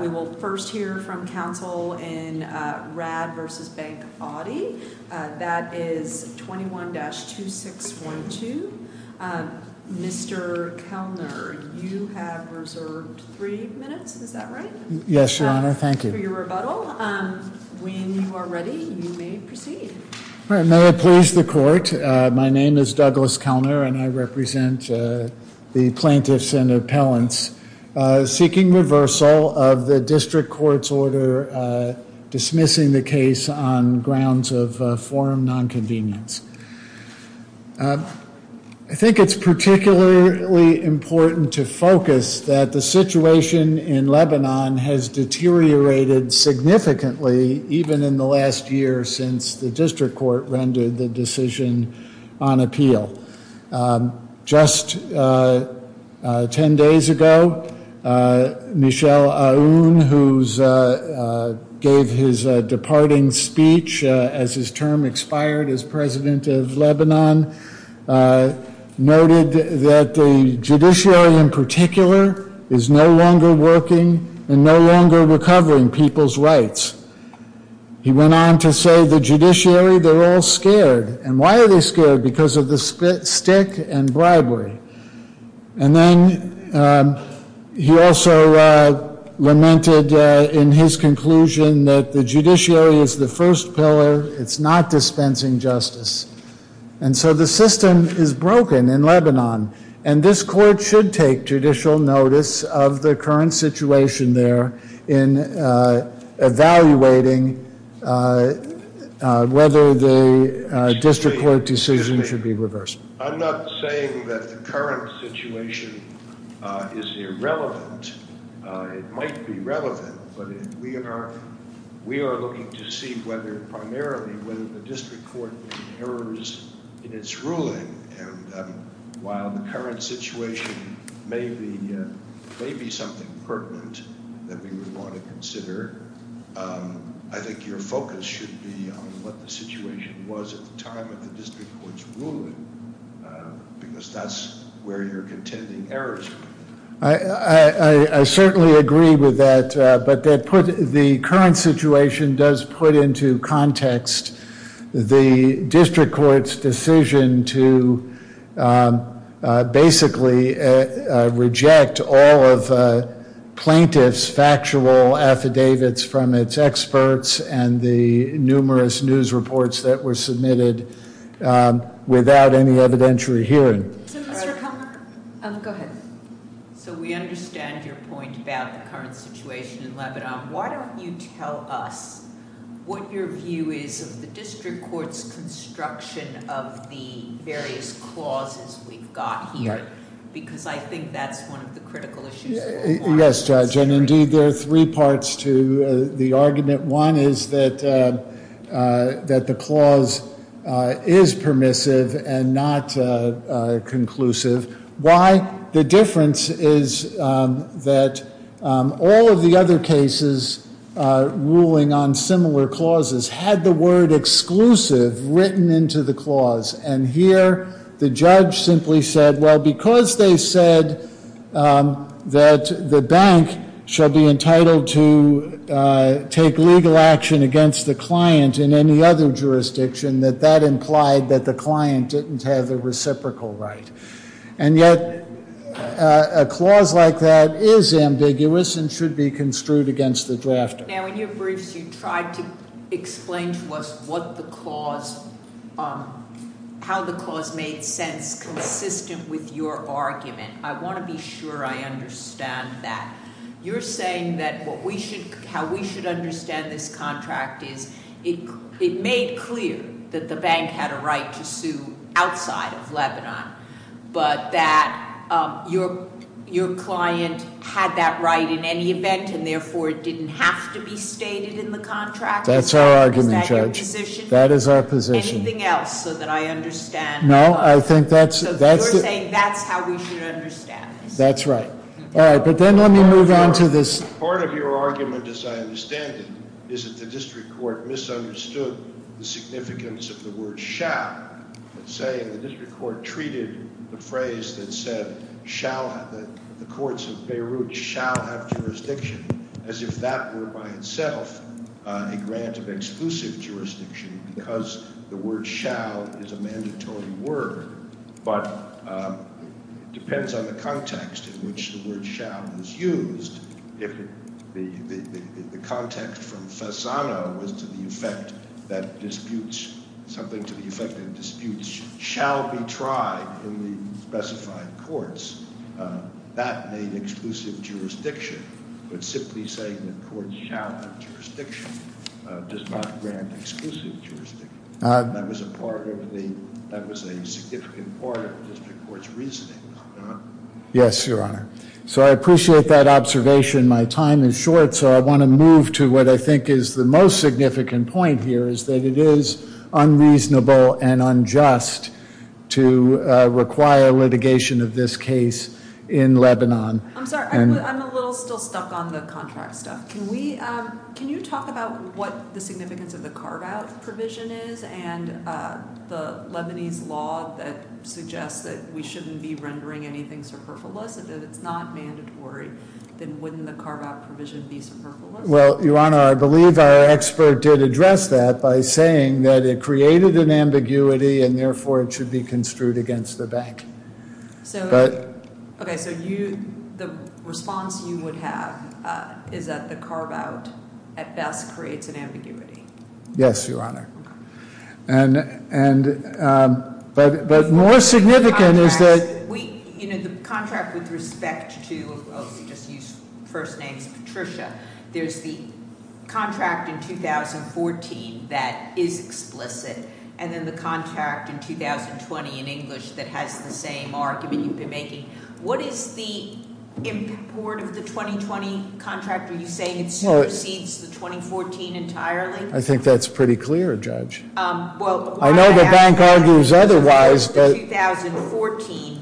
We will first hear from counsel in Raad v. Bank Audi. That is 21-2612. Mr. Kellner, you have reserved three minutes, is that right? Yes, Your Honor. Thank you. For your rebuttal. When you are ready, you may proceed. May I please the court? My name is Douglas Kellner and I represent the plaintiffs and appellants seeking reversal of the district court's order dismissing the case on grounds of forum nonconvenience. I think it is particularly important to focus that the situation in Lebanon has deteriorated significantly even in the last year since the district court rendered the decision on appeal. Just ten days ago, Michel Aoun, who gave his departing speech as his term expired as president of Lebanon, noted that the judiciary in particular is no longer working and no longer recovering people's rights. He went on to say the judiciary, they're all scared. And why are they scared? Because of the stick and bribery. And then he also lamented in his conclusion that the judiciary is the first pillar. It's not dispensing justice. And so the system is broken in Lebanon. And this court should take judicial notice of the current situation there in evaluating whether the district court decision should be reversed. I'm not saying that the current situation is irrelevant. It might be relevant, but we are looking to see whether, primarily, whether the district court made errors in its ruling. And while the current situation may be something pertinent that we would want to consider, I think your focus should be on what the situation was at the time of the district court's ruling, because that's where you're contending errors were. I certainly agree with that. But the current situation does put into context the district court's decision to basically reject all of plaintiffs' factual affidavits from its experts and the numerous news reports that were submitted without any evidentiary hearing. Go ahead. So we understand your point about the current situation in Lebanon. Why don't you tell us what your view is of the district court's construction of the various clauses we've got here? Because I think that's one of the critical issues. Yes, Judge. And indeed, there are three parts to the argument. One is that the clause is permissive and not conclusive. Why? The difference is that all of the other cases ruling on similar clauses had the word exclusive written into the clause. And here, the judge simply said, well, because they said that the bank shall be entitled to take legal action against the client in any other jurisdiction, that that implied that the client didn't have the reciprocal right. And yet, a clause like that is ambiguous and should be construed against the drafter. Now, in your briefs, you tried to explain to us how the clause made sense consistent with your argument. I want to be sure I understand that. You're saying that how we should understand this contract is it made clear that the bank had a right to sue outside of Lebanon, but that your client had that right in any event, and therefore, it didn't have to be stated in the contract? That's our argument, Judge. Is that your position? That is our position. Anything else so that I understand? No, I think that's it. So you're saying that's how we should understand this? That's right. All right, but then let me move on to this. Part of your argument, as I understand it, is that the district court misunderstood the significance of the word shall. Let's say the district court treated the phrase that said the courts of Beirut shall have jurisdiction as if that were by itself a grant of exclusive jurisdiction because the word shall is a mandatory word, but it depends on the context in which the word shall is used. If the context from Fasano was to the effect that something to the effect that disputes shall be tried in the specified courts, that made exclusive jurisdiction, but simply saying that courts shall have jurisdiction does not grant exclusive jurisdiction. That was a significant part of the district court's reasoning, was it not? Yes, Your Honor. So I appreciate that observation. My time is short, so I want to move to what I think is the most significant point here, is that it is unreasonable and unjust to require litigation of this case in Lebanon. I'm sorry, I'm a little still stuck on the contract stuff. Can you talk about what the significance of the carve-out provision is and the Lebanese law that suggests that we shouldn't be rendering anything superfluous, that it's not mandatory, then wouldn't the carve-out provision be superfluous? Well, Your Honor, I believe our expert did address that by saying that it created an ambiguity and therefore it should be construed against the bank. Okay, so the response you would have is that the carve-out at best creates an ambiguity. Yes, Your Honor. Okay. But more significant is that- The contract with respect to, I'll just use first name's Patricia, there's the contract in 2014 that is explicit and then the contract in 2020 in English that has the same argument you've been making. What is the import of the 2020 contract? Are you saying it supersedes the 2014 entirely? I think that's pretty clear, Judge. I know the bank argues otherwise, but- Well, the 2014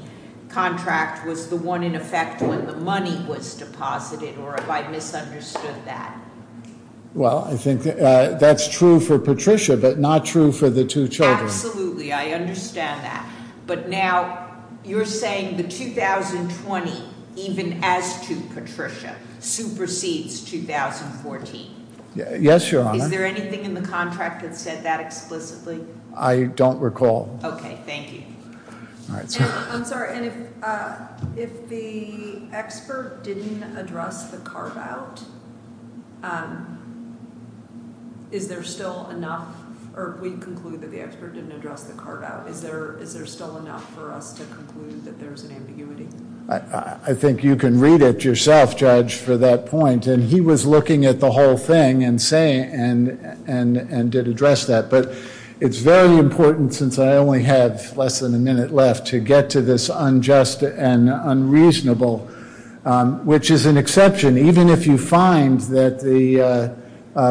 contract was the one in effect when the money was deposited, or have I misunderstood that? Well, I think that's true for Patricia, but not true for the two children. Absolutely, I understand that. But now you're saying the 2020, even as to Patricia, supersedes 2014. Yes, Your Honor. Is there anything in the contract that said that explicitly? I don't recall. Okay, thank you. I'm sorry, and if the expert didn't address the carve-out, is there still enough, or we conclude that the expert didn't address the carve-out, is there still enough for us to conclude that there's an ambiguity? I think you can read it yourself, Judge, for that point. And he was looking at the whole thing and did address that. But it's very important, since I only have less than a minute left, to get to this unjust and unreasonable, which is an exception. Even if you find that the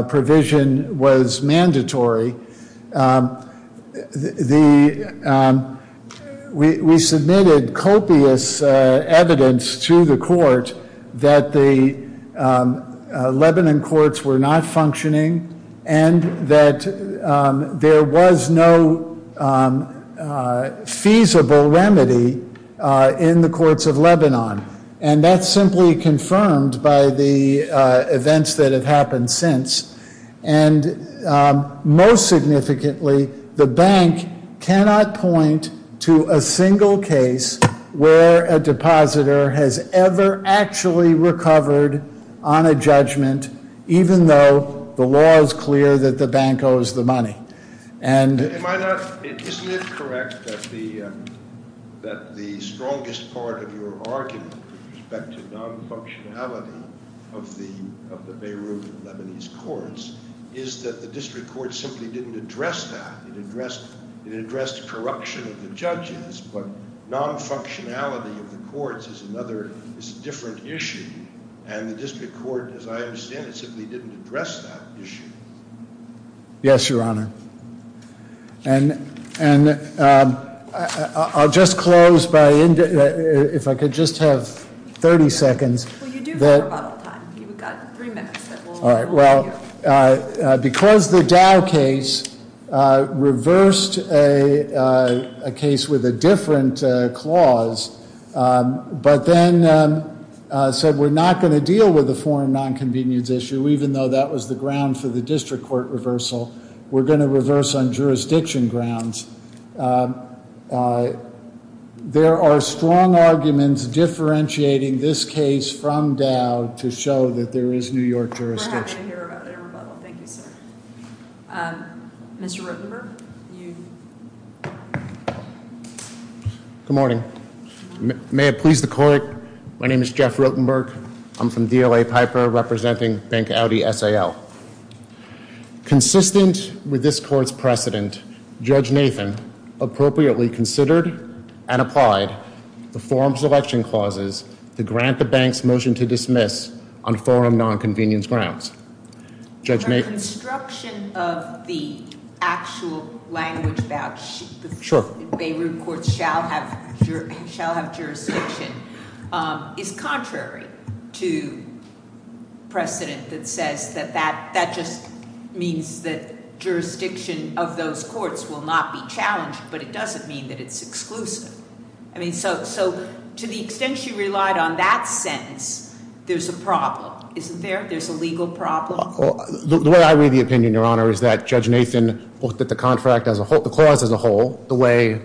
provision was mandatory, we submitted copious evidence to the court that the Lebanon courts were not functioning and that there was no feasible remedy in the courts of Lebanon. And that's simply confirmed by the events that have happened since. And most significantly, the bank cannot point to a single case where a depositor has ever actually recovered on a judgment, even though the law is clear that the bank owes the money. Isn't it correct that the strongest part of your argument with respect to non-functionality of the Beirut Lebanese courts is that the district court simply didn't address that? It addressed corruption of the judges, but non-functionality of the courts is a different issue. And the district court, as I understand it, simply didn't address that issue. Yes, Your Honor. And I'll just close by, if I could just have 30 seconds. Well, you do have about all the time. You've got three minutes. All right, well, because the Dow case reversed a case with a different clause, but then said we're not going to deal with a foreign nonconvenience issue, even though that was the ground for the district court reversal. We're going to reverse on jurisdiction grounds. There are strong arguments differentiating this case from Dow to show that there is New York jurisdiction. We're happy to hear about it. Thank you, sir. Mr. Rotenberg? Good morning. May it please the Court, my name is Jeff Rotenberg. I'm from DLA Piper, representing Bank Audi S.A.L. Consistent with this court's precedent, Judge Nathan appropriately considered and applied the forum selection clauses to grant the bank's motion to dismiss on forum nonconvenience grounds. The construction of the actual language about the Beirut courts shall have jurisdiction is contrary to precedent that says that that just means that jurisdiction of those courts will not be challenged, but it doesn't mean that it's exclusive. So to the extent she relied on that sentence, there's a problem, isn't there? There's a legal problem? The way I read the opinion, Your Honor, is that Judge Nathan looked at the clause as a whole, the way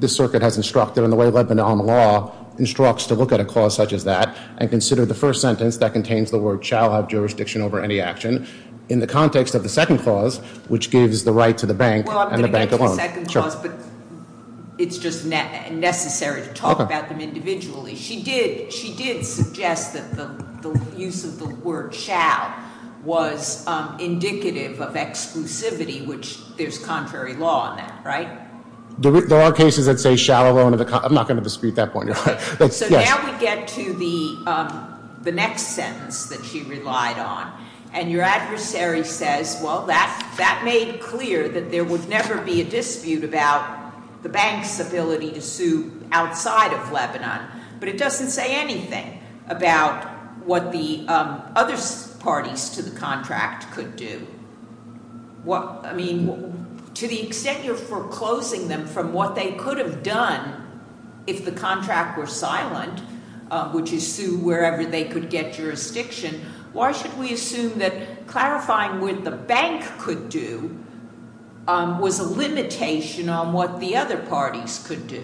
the circuit has instructed and the way Lebanon law instructs to look at a clause such as that and considered the first sentence that contains the word shall have jurisdiction over any action in the context of the second clause, which gives the right to the bank and the bank alone. Well, I'm going to get to the second clause, but it's just necessary to talk about them individually. She did suggest that the use of the word shall was indicative of exclusivity, which there's contrary law on that, right? There are cases that say shall alone. I'm not going to dispute that point, Your Honor. So now we get to the next sentence that she relied on, and your adversary says, well, that made clear that there would never be a dispute about the bank's ability to sue outside of Lebanon, but it doesn't say anything about what the other parties to the contract could do. I mean, to the extent you're foreclosing them from what they could have done if the contract were silent, which is sue wherever they could get jurisdiction, why should we assume that clarifying what the bank could do was a limitation on what the other parties could do?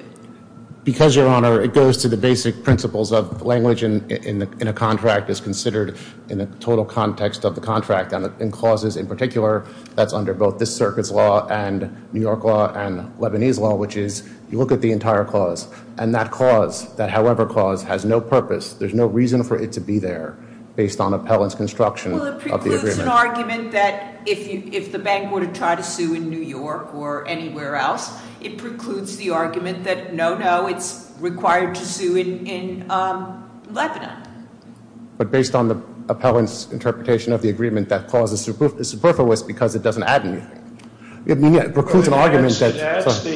Because, Your Honor, it goes to the basic principles of language in a contract is considered in the total context of the contract, and in clauses in particular that's under both this circuit's law and New York law and Lebanese law, which is you look at the entire clause, and that clause, that however clause, has no purpose. There's no reason for it to be there based on appellant's construction of the agreement. Well, it precludes an argument that if the bank were to try to sue in New York or anywhere else, it precludes the argument that, no, no, it's required to sue in Lebanon. But based on the appellant's interpretation of the agreement, that clause is superfluous because it doesn't add anything. It precludes an argument that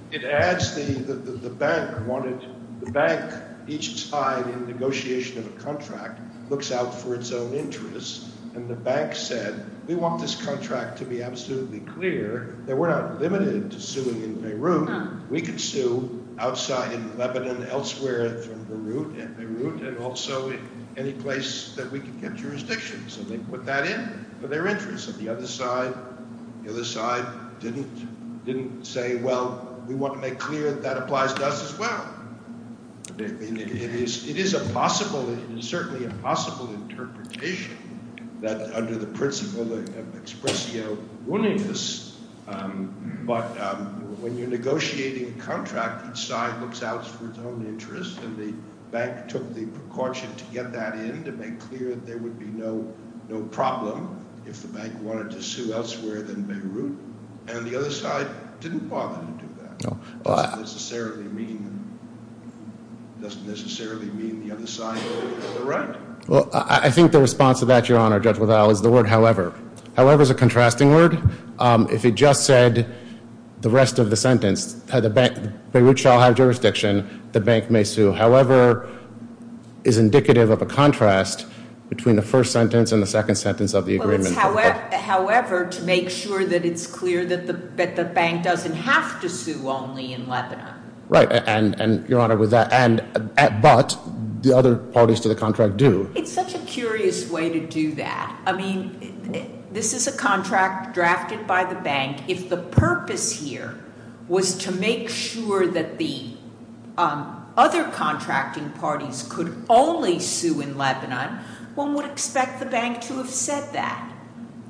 – It adds the bank wanted – the bank each time in negotiation of a contract looks out for its own interests, and the bank said we want this contract to be absolutely clear that we're not limited to suing in Beirut. We can sue outside in Lebanon, elsewhere from Beirut, and also any place that we can get jurisdictions. And they put that in for their interests. And the other side didn't say, well, we want to make clear that that applies to us as well. It is a possible – it is certainly a possible interpretation that under the principle of expresso willingness. But when you're negotiating a contract, each side looks out for its own interests, and the bank took the precaution to get that in to make clear there would be no problem if the bank wanted to sue elsewhere than Beirut. And the other side didn't bother to do that. It doesn't necessarily mean – it doesn't necessarily mean the other side is right. Well, I think the response to that, Your Honor, Judge Waddell, is the word however. However is a contrasting word. If it just said the rest of the sentence, the bank – Beirut shall have jurisdiction. The bank may sue. However is indicative of a contrast between the first sentence and the second sentence of the agreement. However, to make sure that it's clear that the bank doesn't have to sue only in Lebanon. Right. And, Your Honor, with that – but the other parties to the contract do. It's such a curious way to do that. I mean, this is a contract drafted by the bank. If the purpose here was to make sure that the other contracting parties could only sue in Lebanon, one would expect the bank to have said that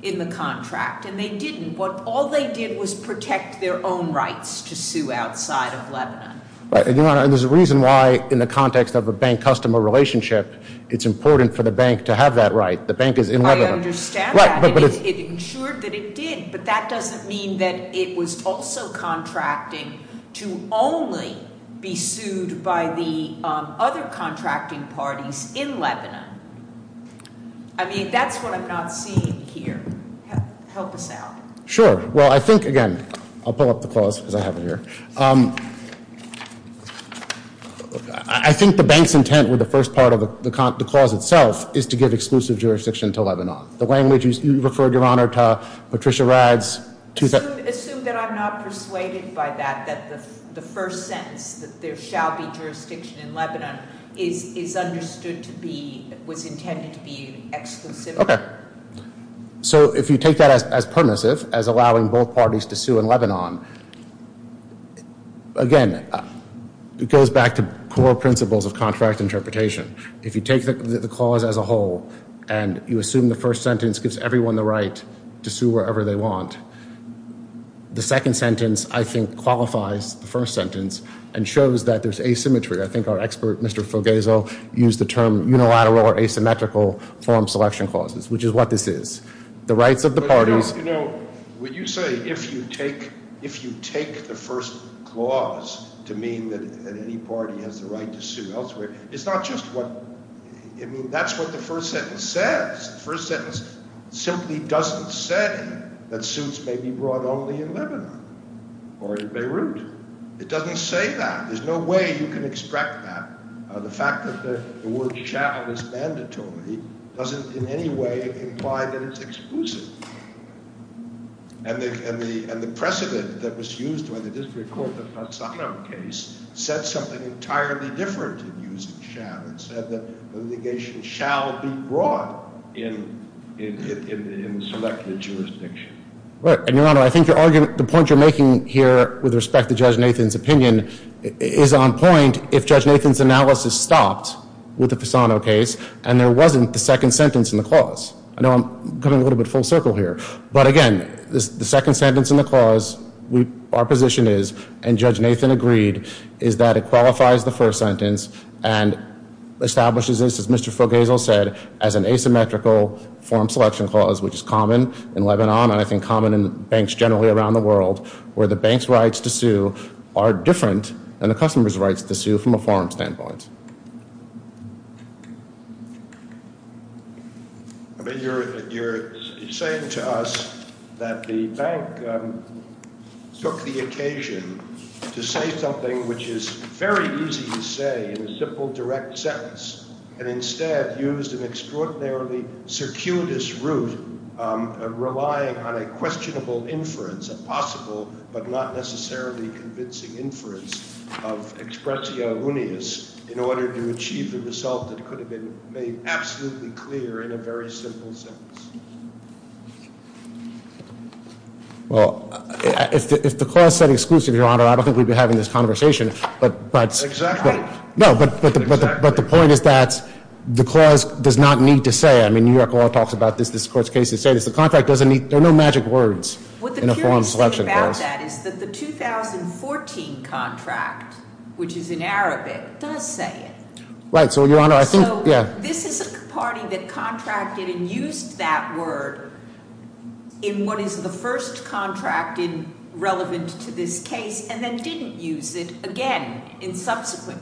in the contract. And they didn't. All they did was protect their own rights to sue outside of Lebanon. Right. And, Your Honor, there's a reason why in the context of a bank-customer relationship, it's important for the bank to have that right. The bank is in Lebanon. I understand that. It ensured that it did. But that doesn't mean that it was also contracting to only be sued by the other contracting parties in Lebanon. I mean, that's what I'm not seeing here. Help us out. Sure. Well, I think, again, I'll pull up the clause because I have it here. I think the bank's intent with the first part of the clause itself is to give exclusive jurisdiction to Lebanon. The language you referred, Your Honor, to Patricia Radd's two- Assume that I'm not persuaded by that, that the first sentence, that there shall be jurisdiction in Lebanon, is understood to be, was intended to be exclusive. Okay. So if you take that as permissive, as allowing both parties to sue in Lebanon, again, it goes back to core principles of contract interpretation. If you take the clause as a whole and you assume the first sentence gives everyone the right to sue wherever they want, the second sentence, I think, qualifies the first sentence and shows that there's asymmetry. I think our expert, Mr. Fogesel, used the term unilateral or asymmetrical form selection clauses, which is what this is. The rights of the parties- But, you know, would you say if you take the first clause to mean that any party has the right to sue elsewhere, it's not just what- I mean, that's what the first sentence says. The first sentence simply doesn't say that suits may be brought only in Lebanon or in Beirut. It doesn't say that. There's no way you can extract that. The fact that the word child is mandatory doesn't in any way imply that it's exclusive. And the precedent that was used by the district court in the Fasano case said something entirely different in using shall. It said that litigation shall be brought in selected jurisdiction. Right. And, Your Honor, I think the point you're making here with respect to Judge Nathan's opinion is on point if Judge Nathan's analysis stopped with the Fasano case and there wasn't the second sentence in the clause. I know I'm coming a little bit full circle here. But, again, the second sentence in the clause, our position is, and Judge Nathan agreed, is that it qualifies the first sentence and establishes this, as Mr. Fogesel said, as an asymmetrical form selection clause, which is common in Lebanon and I think common in banks generally around the world, where the bank's rights to sue are different than the customer's rights to sue from a foreign standpoint. You're saying to us that the bank took the occasion to say something which is very easy to say in a simple, direct sentence and instead used an extraordinarily circuitous route of relying on a questionable inference, a possible but not necessarily convincing inference of expressio unius in order to achieve the result that could have been made absolutely clear in a very simple sentence. Well, if the clause said exclusive, Your Honor, I don't think we'd be having this conversation. Exactly. No, but the point is that the clause does not need to say, I mean, New York law talks about this, the contract doesn't need, there are no magic words in a form selection clause. What the jurors say about that is that the 2014 contract, which is in Arabic, does say it. Right, so Your Honor, I think, yeah. So this is a party that contracted and used that word in what is the first contract relevant to this case and then didn't use it again in subsequent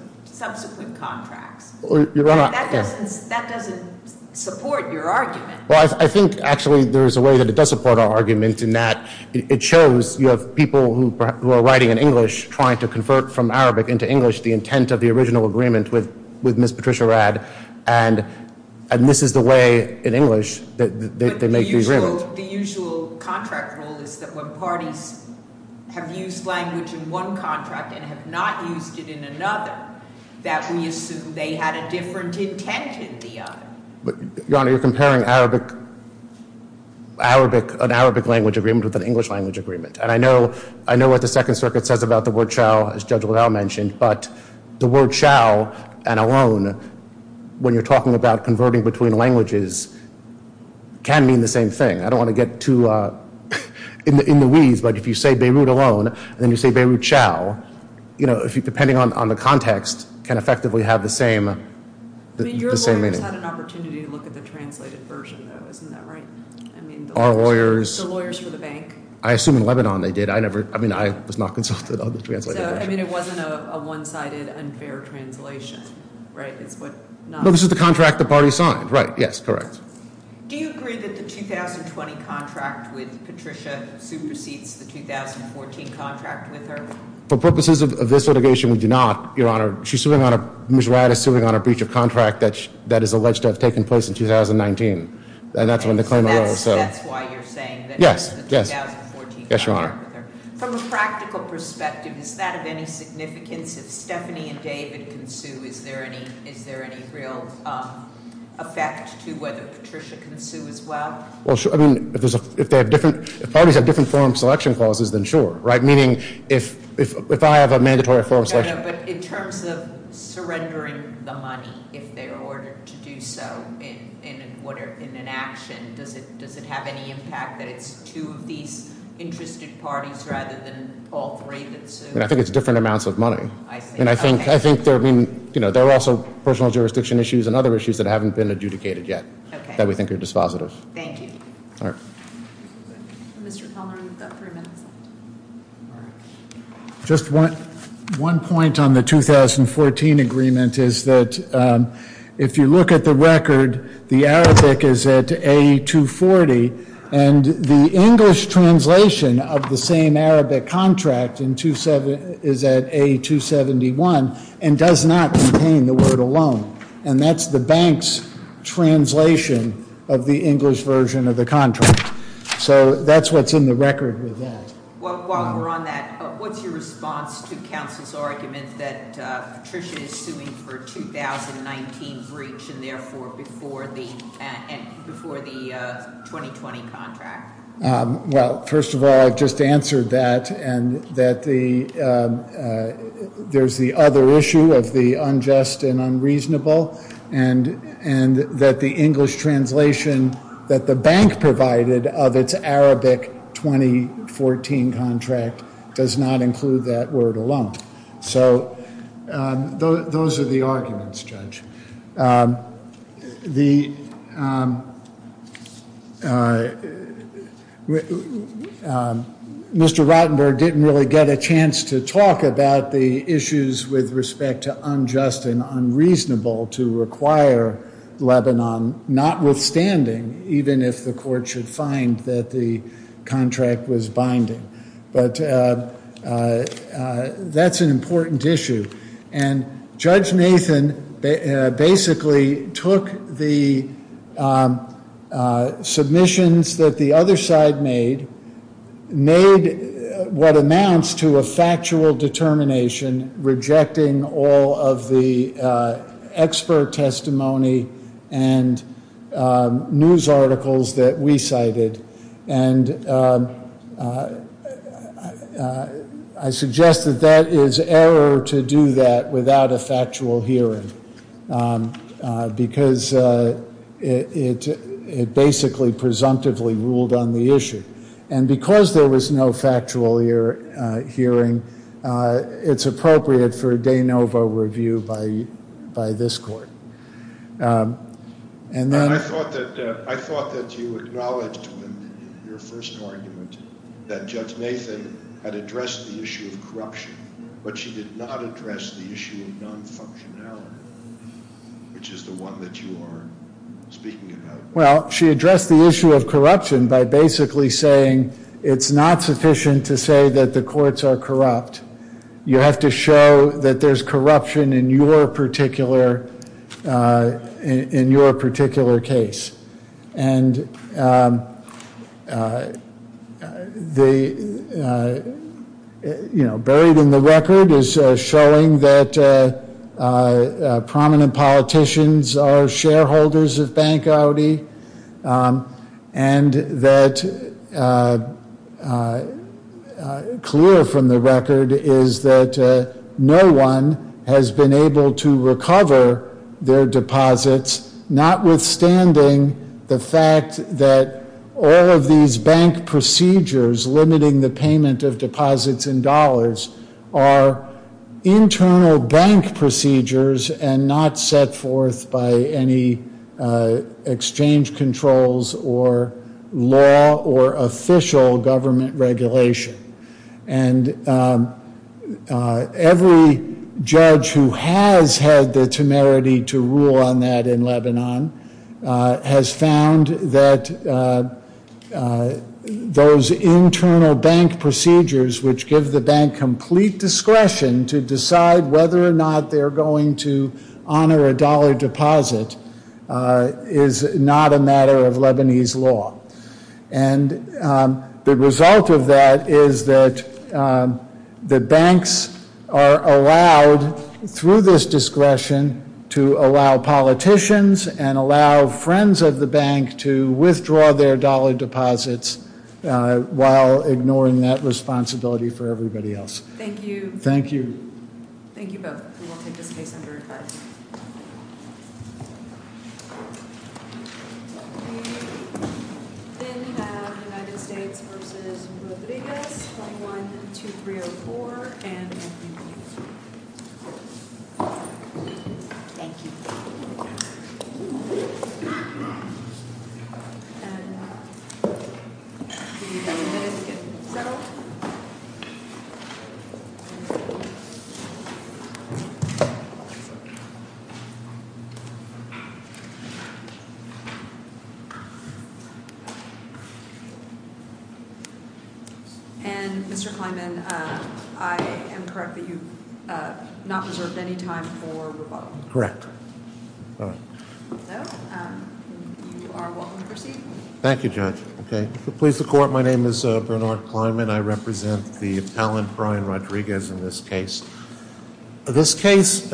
contracts. Your Honor. That doesn't support your argument. Well, I think actually there is a way that it does support our argument in that it shows you have people who are writing in English trying to convert from Arabic into English the intent of the original agreement with Ms. Patricia Rad, and this is the way in English that they make the agreement. But the usual contract rule is that when parties have used language in one contract and have not used it in another, that we assume they had a different intent in the other. Your Honor, you're comparing an Arabic language agreement with an English language agreement. And I know what the Second Circuit says about the word shall, as Judge Liddell mentioned, but the word shall and alone, when you're talking about converting between languages, can mean the same thing. I don't want to get too in the weeds, but if you say Beirut alone and then you say Beirut shall, you know, depending on the context, can effectively have the same meaning. I mean, your lawyers had an opportunity to look at the translated version, though, isn't that right? Our lawyers. The lawyers for the bank. I assume in Lebanon they did. I never, I mean, I was not consulted on the translated version. So, I mean, it wasn't a one-sided, unfair translation, right? No, this is the contract the party signed. Right, yes, correct. Do you agree that the 2020 contract with Patricia supersedes the 2014 contract with her? For purposes of this litigation, we do not, Your Honor. She's suing on a, Ms. Wadd is suing on a breach of contract that is alleged to have taken place in 2019, and that's when the claim arose. So that's why you're saying that in the 2014 contract with her. Yes, Your Honor. From a practical perspective, is that of any significance? If Stephanie and David can sue, is there any real effect to whether Patricia can sue as well? Well, I mean, if parties have different forum selection clauses, then sure, right? Meaning if I have a mandatory forum selection. But in terms of surrendering the money, if they're ordered to do so in an action, does it have any impact that it's two of these interested parties rather than all three that sue? I think it's different amounts of money. I think there are also personal jurisdiction issues and other issues that haven't been adjudicated yet that we think are dispositive. Thank you. Mr. Palmer, you've got three minutes. All right. Just one point on the 2014 agreement is that if you look at the record, the Arabic is at A240, and the English translation of the same Arabic contract is at A271 and does not contain the word alone, and that's the bank's translation of the English version of the contract. So that's what's in the record with that. While we're on that, what's your response to Council's argument that Patricia is suing for a 2019 breach and therefore before the 2020 contract? Well, first of all, I've just answered that, and that there's the other issue of the unjust and unreasonable, and that the English translation that the bank provided of its Arabic 2014 contract does not include that word alone. So those are the arguments, Judge. Mr. Rotenberg didn't really get a chance to talk about the issues with respect to unjust and unreasonable to require Lebanon, notwithstanding, even if the court should find that the contract was binding. But that's an important issue. And Judge Nathan basically took the submissions that the other side made, made what amounts to a factual determination rejecting all of the expert testimony and news articles that we cited. And I suggest that that is error to do that without a factual hearing, because it basically presumptively ruled on the issue. And because there was no factual hearing, it's appropriate for a de novo review by this court. I thought that you acknowledged in your first argument that Judge Nathan had addressed the issue of corruption, but she did not address the issue of non-functionality, which is the one that you are speaking about. Well, she addressed the issue of corruption by basically saying it's not sufficient to say that the courts are corrupt. You have to show that there's corruption in your particular case. And buried in the record is showing that prominent politicians are shareholders of Bank Audi, and that clear from the record is that no one has been able to recover their deposits, notwithstanding the fact that all of these bank procedures limiting the payment of deposits in dollars are internal bank procedures and not set forth by any exchange controls or law or official government regulation. And every judge who has had the temerity to rule on that in Lebanon has found that those internal bank procedures which give the bank complete discretion to decide whether or not they're going to honor a dollar deposit is not a matter of Lebanese law. And the result of that is that the banks are allowed, through this discretion, to allow politicians and allow friends of the bank to withdraw their dollar deposits while ignoring that responsibility for everybody else. Thank you. Thank you. Thank you both. We will take this case under advice. We then have United States v. Rodriguez, 21-2304. Thank you. Thank you. And, Mr. Kleinman, I am correct that you've not reserved any time for rebuttal. Correct. So, you are welcome to proceed. Thank you, Judge. Okay. Please, the Court, my name is Bernard Kleinman. I represent the appellant, Brian Rodriguez, in this case. This case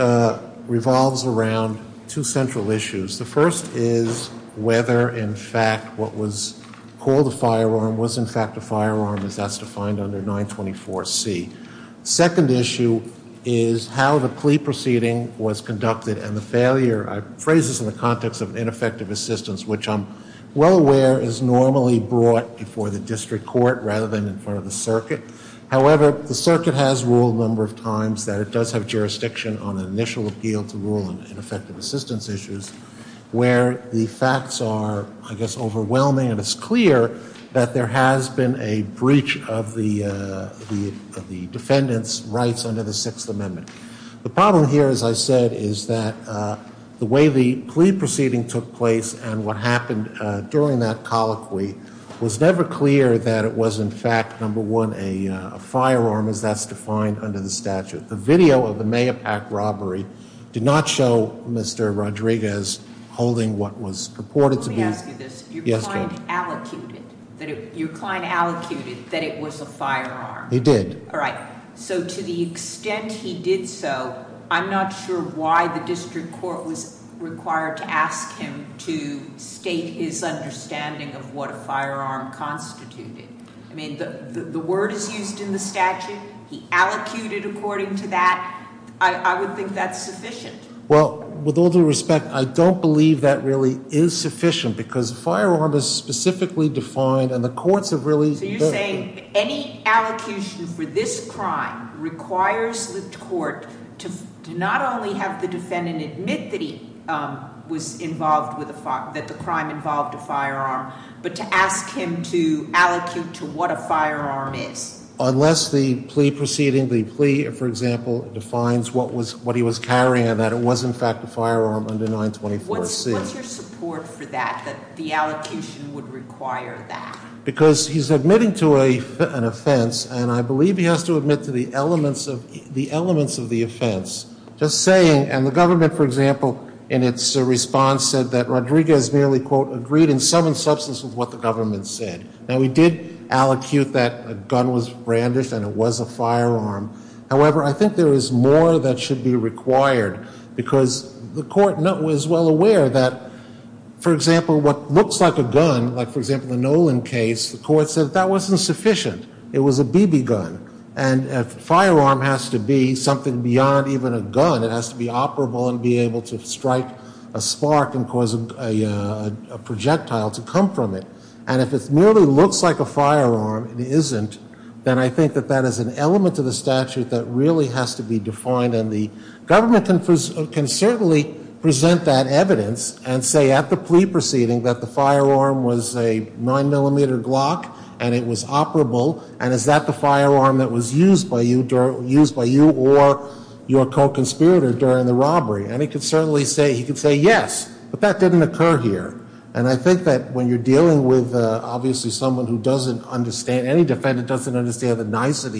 revolves around two central issues. The first is whether, in fact, what was called a firearm was, in fact, a firearm, as that's defined under 924C. Second issue is how the plea proceeding was conducted and the failure. I phrase this in the context of ineffective assistance, which I'm well aware is normally brought before the district court rather than in front of the circuit. However, the circuit has ruled a number of times that it does have jurisdiction on an initial appeal to rule on ineffective assistance issues, where the facts are, I guess, overwhelming and it's clear that there has been a breach of the defendant's rights under the Sixth Amendment. The problem here, as I said, is that the way the plea proceeding took place and what happened during that colloquy was never clear that it was, in fact, number one, a firearm, as that's defined under the statute. The video of the Mayapak robbery did not show Mr. Rodriguez holding what was purported to be- Let me ask you this. Yes, ma'am. Your client allocuted that it was a firearm. He did. All right. So to the extent he did so, I'm not sure why the district court was required to ask him to state his understanding of what a firearm constituted. I mean, the word is used in the statute. He allocated according to that. I would think that's sufficient. Well, with all due respect, I don't believe that really is sufficient because a firearm is specifically defined and the courts have really- Unless the plea proceeding, the plea, for example, defines what he was carrying and that it was, in fact, a firearm under 924C. What's your support for that, that the allocation would require that? Because he's admitting to an offense, and I believe he has to admit to the elements of the offense. Just saying, and the government, for example, in its response said that Rodriguez merely, quote, with what the government said. Now, we did allocute that a gun was brandish and it was a firearm. However, I think there is more that should be required because the court was well aware that, for example, what looks like a gun, like, for example, the Nolan case, the court said that wasn't sufficient. It was a BB gun, and a firearm has to be something beyond even a gun. It has to be operable and be able to strike a spark and cause a projectile to come from it. And if it merely looks like a firearm, it isn't, then I think that that is an element of the statute that really has to be defined. And the government can certainly present that evidence and say at the plea proceeding that the firearm was a 9mm Glock and it was operable. And is that the firearm that was used by you or your co-conspirator during the robbery? And he could certainly say, he could say yes, but that didn't occur here. And I think that when you're dealing with, obviously, someone who doesn't understand, any defendant doesn't understand the nicety.